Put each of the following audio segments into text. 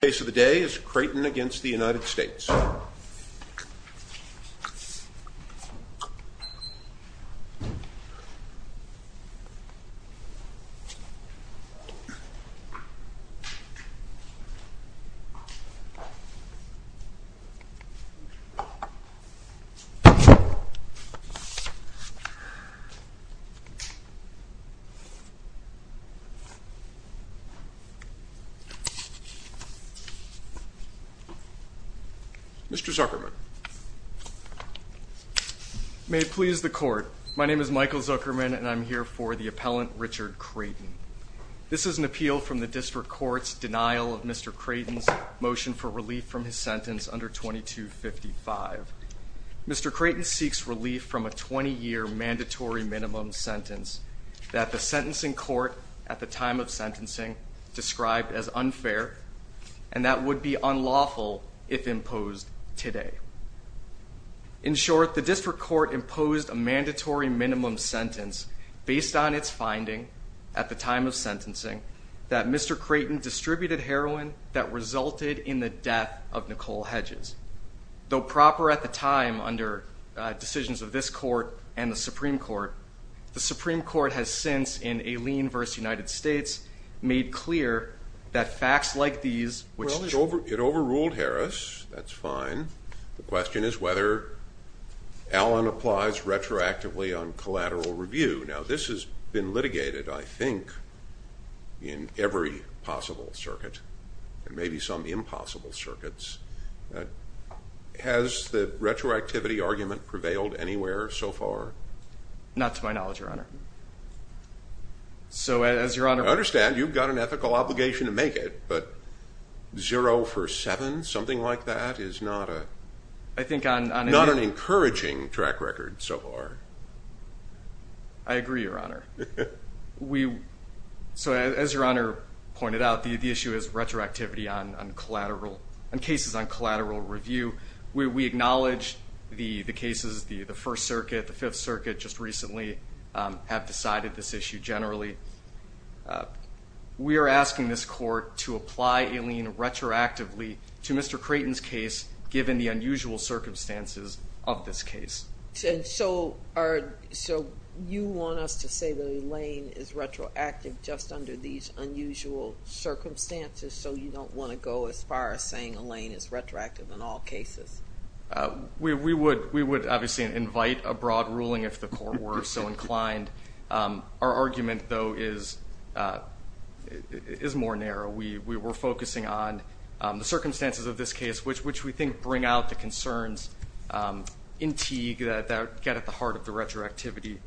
The case of the day is Crayton v. United States Mr. Zuckerman. May it please the court. My name is Michael Zuckerman and I'm here for the appellant Richard Crayton. This is an appeal from the district court's denial of Mr. Crayton's motion for relief from his sentence under 2255. Mr. Crayton seeks relief from a 20-year mandatory minimum sentence that the sentencing court at the time of sentencing described as unfair and that would be unlawful if imposed today. In short, the district court imposed a mandatory minimum sentence based on its finding at the time of sentencing that Mr. Crayton distributed heroin that resulted in the death of Nicole Hedges. Though proper at the time under decisions of this court and the Supreme Court, the Supreme Court has since, in a lien v. United States, made clear that facts like these, which it overruled Harris, that's fine. The question is whether Allen applies retroactively on collateral review. Now this has been litigated, I think, in every possible circuit and maybe some impossible circuits. Has the retroactivity argument prevailed anywhere so far? Not to my knowledge, Your Honor. I understand you've got an ethical obligation to make it, but zero for seven, something like that, is not an encouraging track record so far. I agree, Your Honor. So as Your Honor pointed out, the issue is retroactivity on cases on collateral review. We acknowledge the cases, the First Circuit, the Fifth Circuit just recently have decided this issue generally. We are asking this court to apply a lien retroactively to Mr. Crayton's case given the unusual circumstances of this case. So you want us to say the lien is retroactive just under these unusual circumstances so you don't want to go as far as saying a lien is retroactive in all cases? We would obviously invite a broad ruling if the court were so inclined. Our argument, though, is more narrow. We're focusing on the circumstances of this case, which we think bring out the concerns in Teague that get at the heart of the retroactivity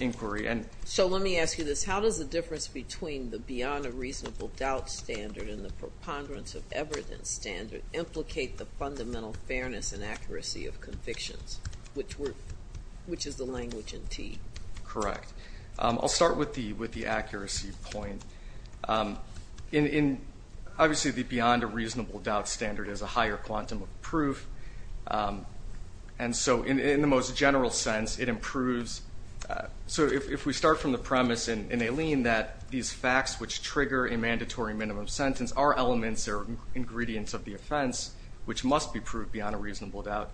inquiry. So let me ask you this. How does the difference between the beyond a reasonable doubt standard and the preponderance of evidence standard implicate the fundamental fairness and accuracy of convictions, which is the language in Teague? Correct. I'll start with the accuracy point. Obviously the beyond a reasonable doubt standard is a higher quantum of proof, and so in the most general sense it improves. So if we start from the premise in a lien that these facts which trigger a mandatory minimum sentence are elements or beyond a reasonable doubt,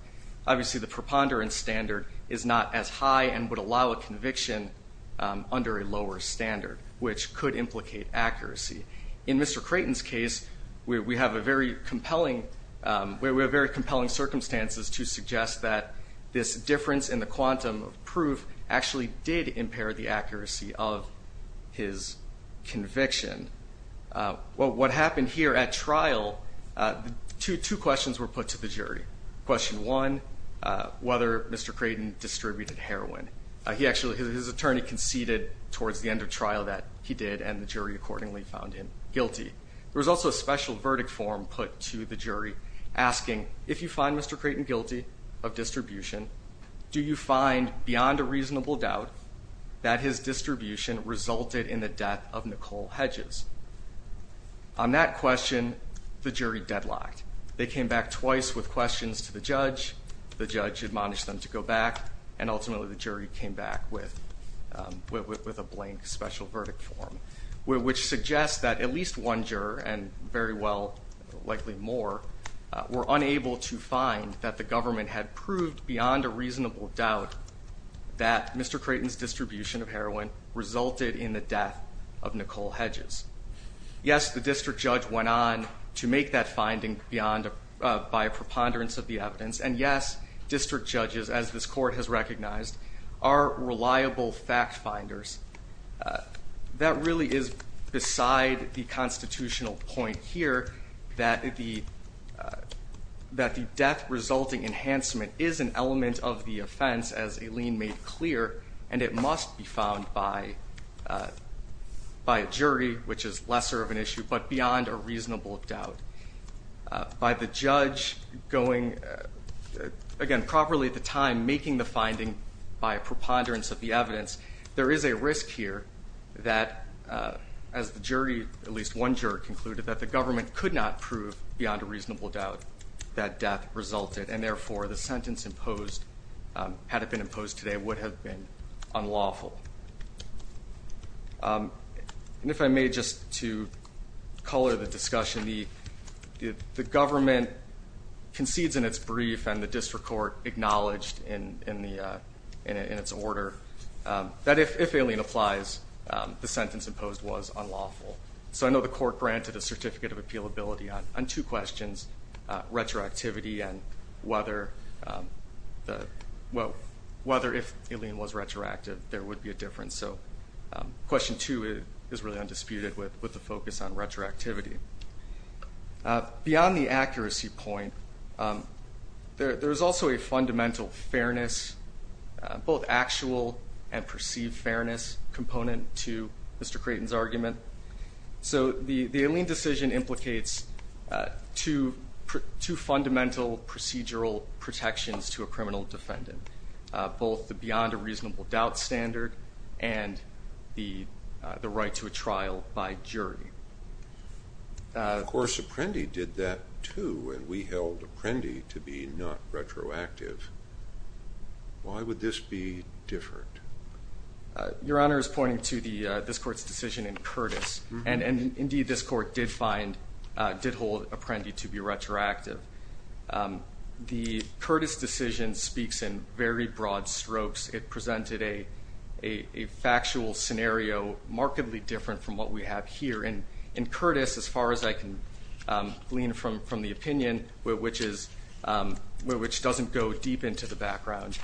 obviously the preponderance standard is not as high and would allow a conviction under a lower standard, which could implicate accuracy. In Mr. Creighton's case we have a very compelling circumstances to suggest that this difference in the quantum of proof actually did impair the accuracy of his conviction. What happened here at trial, two questions were put to the jury. Question one, whether Mr. Creighton distributed heroin. He actually, his attorney conceded towards the end of trial that he did and the jury accordingly found him guilty. There was also a special verdict form put to the jury asking if you find Mr. Creighton guilty of distribution, do you find beyond a reasonable doubt that his distribution resulted in the death of Nicole Hedges? On that question the jury deadlocked. They came back twice with questions to the judge. The judge admonished them to go back and ultimately the jury came back with a blank special verdict form, which suggests that at least one juror, and very well likely more, were unable to find that the government had distributed heroin resulted in the death of Nicole Hedges. Yes, the district judge went on to make that finding by a preponderance of the evidence and yes, district judges, as this court has recognized, are reliable fact finders. That really is beside the constitutional point here that the death resulting enhancement is an element of the offense as Aline made clear and it must be found by a jury, which is lesser of an issue, but beyond a reasonable doubt. By the judge going, again properly at the time, making the finding by a preponderance of the evidence, there is a risk here that as the jury, at least one juror, concluded that the government could not prove beyond a reasonable doubt that death resulted and therefore the sentence imposed, had it been imposed today, would have been unlawful. If I may, just to color the discussion, the government concedes in its brief and the district court acknowledged in its order that if Aline applies, the sentence imposed was unlawful. So I know the court granted a certificate of appealability on two questions, retroactivity and whether if Aline was retroactive, there would be a difference. So question two is really undisputed with the focus on retroactivity. Beyond the accuracy point, there is also a fundamental fairness, both actual and perceived fairness component to Mr. Creighton's argument. So the Aline decision implicates two fundamental procedural protections to a criminal defendant, both the beyond a reasonable doubt standard and the right to a trial by jury. Of course Apprendi did that too and we held Apprendi to be not retroactive. Why would this be different? Your Honor is pointing to this court's decision in Curtis and indeed this court did find, did hold Apprendi to be retroactive. The Curtis decision speaks in very broad strokes. It presented a factual scenario markedly different from what we have here. In Curtis, as far as I can glean from the opinion, which doesn't go deep into the background,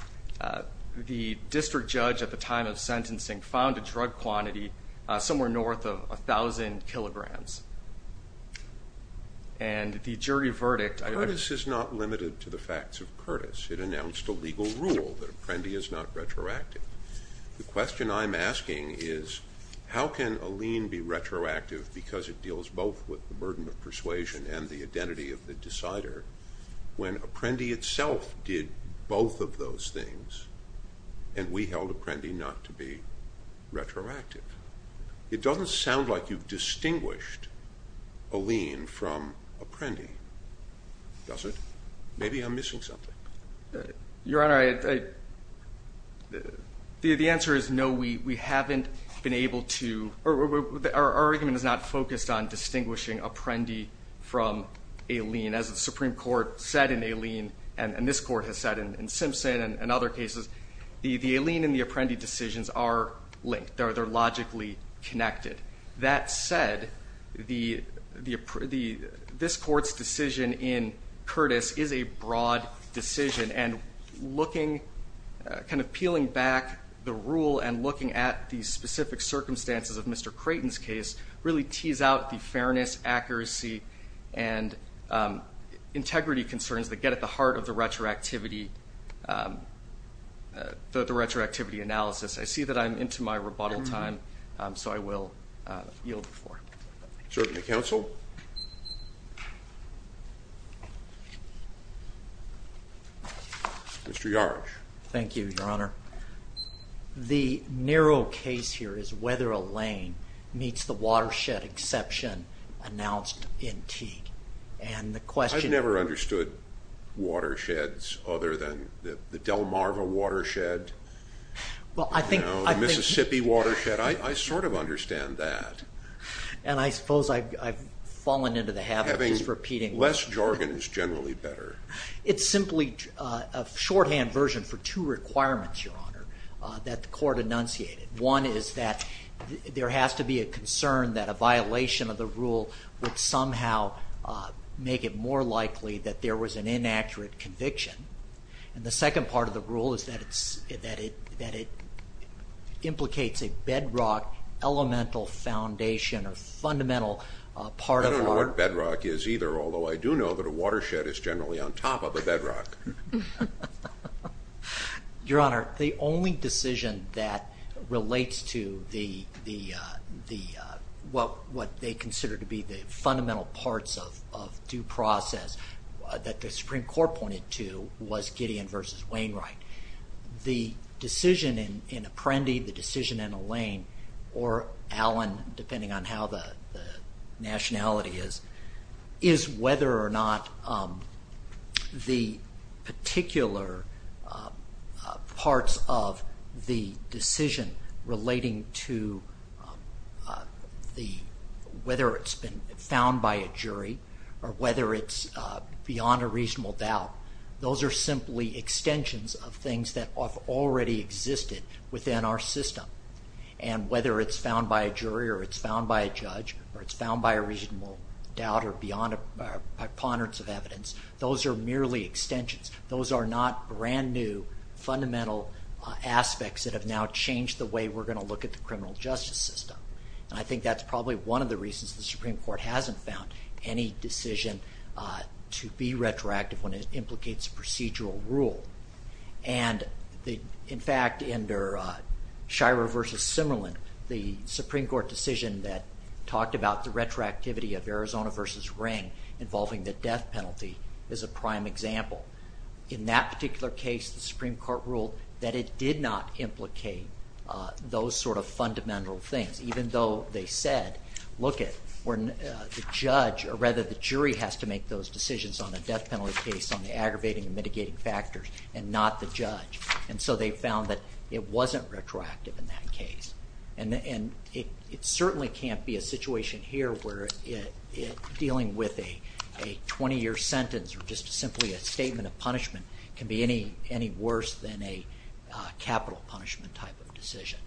the district judge at the time of sentencing found a drug quantity somewhere north of 1,000 kilograms. And the jury verdict- Curtis is not limited to the facts of Curtis. It announced a legal rule that Apprendi is not retroactive. The question I'm asking is how can Aline be retroactive because it deals both with the burden of persuasion and the identity of the decider when Apprendi itself did both of those things and we held Apprendi not to be retroactive. It doesn't sound like you've distinguished Aline from Apprendi, does it? Maybe I'm missing something. Your Honor, the answer is no, we haven't been able to, our argument is not focused on distinguishing Apprendi from Curtis. As this Court has said in Simpson and other cases, the Aline and the Apprendi decisions are linked. They're logically connected. That said, this Court's decision in Curtis is a broad decision and looking, kind of peeling back the rule and looking at the specific circumstances of Mr. Creighton's case really tees out the fairness, accuracy and integrity concerns that get at the heart of the retroactivity, the retroactivity analysis. I see that I'm into my rebuttal time, so I will yield the floor. Certainly, counsel. Mr. Yarch. Thank you, Your Honor. The narrow case here is whether Aline meets the watershed exception announced in Teague. I've never understood watersheds other than the Delmarva watershed, the Mississippi watershed. I sort of understand that. And I suppose I've fallen into the habit of just repeating. Less jargon is generally better. It's simply a shorthand version for two requirements, Your Honor, that the Court enunciated. One is that there has to be a concern that a violation of the rule would somehow make it more likely that there was an inaccurate conviction. And the second part of the rule is that it implicates a bedrock elemental foundation or fundamental part of our- I don't know what bedrock is either, although I do know that a watershed is generally on top of a bedrock. Your Honor, the only decision that relates to what they consider to be the fundamental parts of due process that the Supreme Court pointed to was Gideon v. Wainwright. The decision in Apprendi, the decision in Aline, or Allen, depending on how the nationality is, is whether or not the particular parts of the decision relating to whether it's been found by a jury or whether it's beyond a reasonable doubt, those are simply extensions of things that have already existed within our system. And whether it's found by a jury or it's found by a judge or it's found by a reasonable doubt or beyond a ponderance of evidence, those are merely extensions. Those are not brand new fundamental aspects that have now changed the way we're going to look at the criminal justice system. And I think that's probably one of the reasons the Supreme Court hasn't found any decision to be retroactive when it implicates procedural rule. And in fact, under Schirer v. Simmerlin, the Supreme Court decision that talked about the retroactivity of Arizona v. Ring involving the death penalty is a prime example. In that particular case, the Supreme Court ruled that it did not implicate those sort of fundamental things, even though they said, look it, the judge, or rather the jury, has to make those decisions on a death penalty case on the aggravating and mitigating factors and not the judge. And so they found that it wasn't retroactive in that case. And it certainly can't be a situation here where dealing with a 20-year sentence or just simply a statement of punishment can be any worse than a capital punishment type of decision.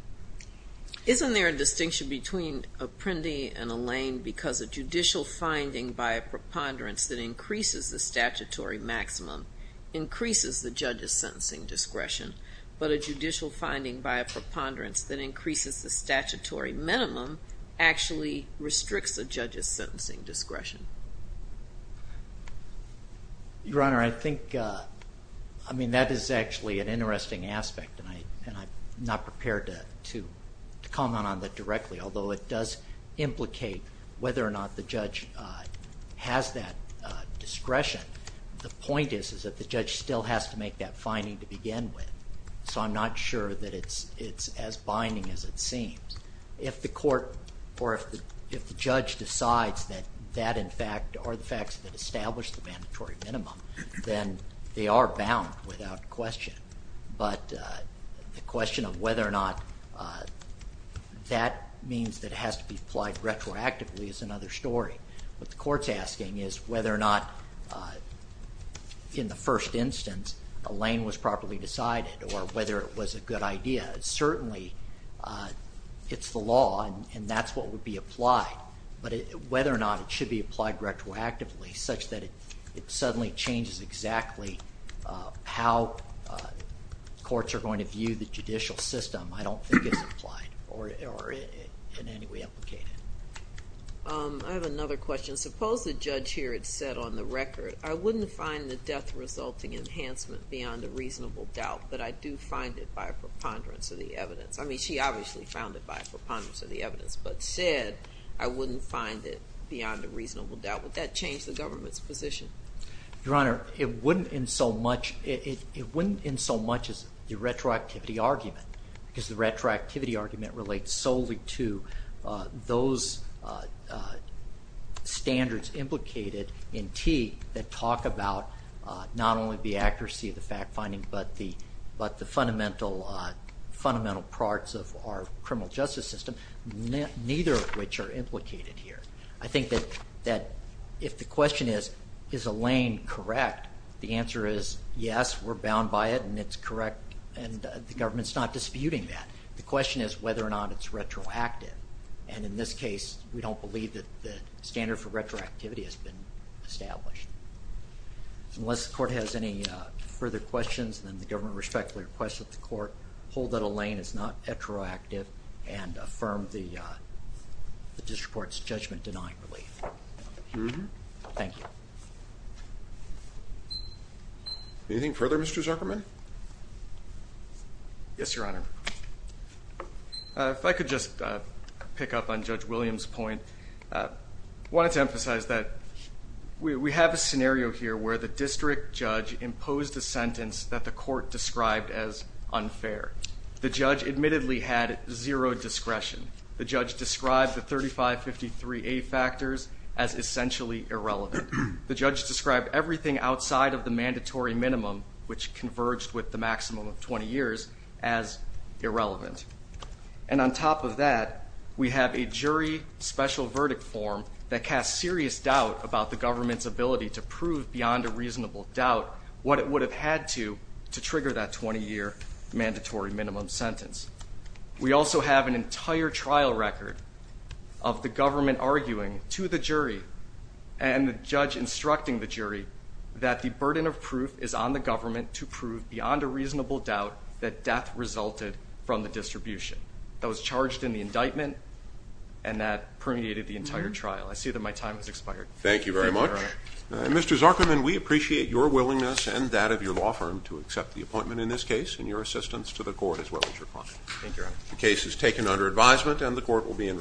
Isn't there a distinction between a Prindy and a Lane because a judicial finding by a preponderance that increases the statutory maximum increases the judge's sentencing discretion, but a judicial finding by a preponderance that increases the statutory minimum actually restricts a judge's sentencing discretion? Your Honor, I think, I mean, that is actually an interesting aspect and I'm not prepared to comment on that directly, although it does implicate whether or not the judge has that discretion. The point is that the judge still has to make that finding to begin with, so I'm not sure that it's as binding as it seems. If the court or if the judge decides that that, in fact, or the facts that establish the mandatory minimum, then they are bound without question. But the question of whether or not that means that it has to be applied retroactively is another story. What the court's concern is whether or not, in the first instance, a Lane was properly decided or whether it was a good idea. Certainly, it's the law and that's what would be applied, but whether or not it should be applied retroactively such that it suddenly changes exactly how courts are going to view the judicial system, I don't think it's applied or in any way implicated. I have another question. Suppose the judge here had said on the record, I wouldn't find the death resulting enhancement beyond a reasonable doubt, but I do find it by a preponderance of the evidence. I mean, she obviously found it by a preponderance of the evidence, but said, I wouldn't find it beyond a reasonable doubt. Would that change the government's position? Your Honor, it wouldn't in so much, it wouldn't in so much as the retroactivity argument relates solely to those standards implicated in T that talk about not only the accuracy of the fact-finding, but the fundamental parts of our criminal justice system, neither of which are implicated here. I think that if the question is, is a Lane correct, the answer is yes, we're bound by it and it's correct and the government's not disputing that. The question is whether or not it's retroactive and in this case, we don't believe that the standard for retroactivity has been established. Unless the court has any further questions, then the government respectfully requests that the court hold that a Lane is not retroactive and affirm the district court's judgment denying relief. Thank you. Anything further, Mr. Zuckerman? Yes, Your Honor. If I could just pick up on Judge Williams' point, I wanted to emphasize that we have a scenario here where the district judge imposed a sentence that the court described as unfair. The judge admittedly had zero discretion. The judge described the 3553A factors as essentially irrelevant. The judge described everything outside of the mandatory minimum, which converged with the maximum of 20 years, as irrelevant. And on top of that, we have a jury special verdict form that casts serious doubt about the government's ability to prove beyond a reasonable doubt what it would have had to trigger that 20-year mandatory minimum sentence. We also have an entire trial record of the government arguing to the jury and the judge instructing the jury that the burden of proof is on the government to prove beyond a reasonable doubt that death resulted from the distribution. That was charged in the indictment and that permeated the entire trial. I see that my time has expired. Thank you very much. Mr. Zuckerman, we appreciate your willingness and that of your law firm to accept the appointment in this case and your assistance to the court as well as your client. Thank you, Your Honor. The case is taken under advisement and the court will be in recess.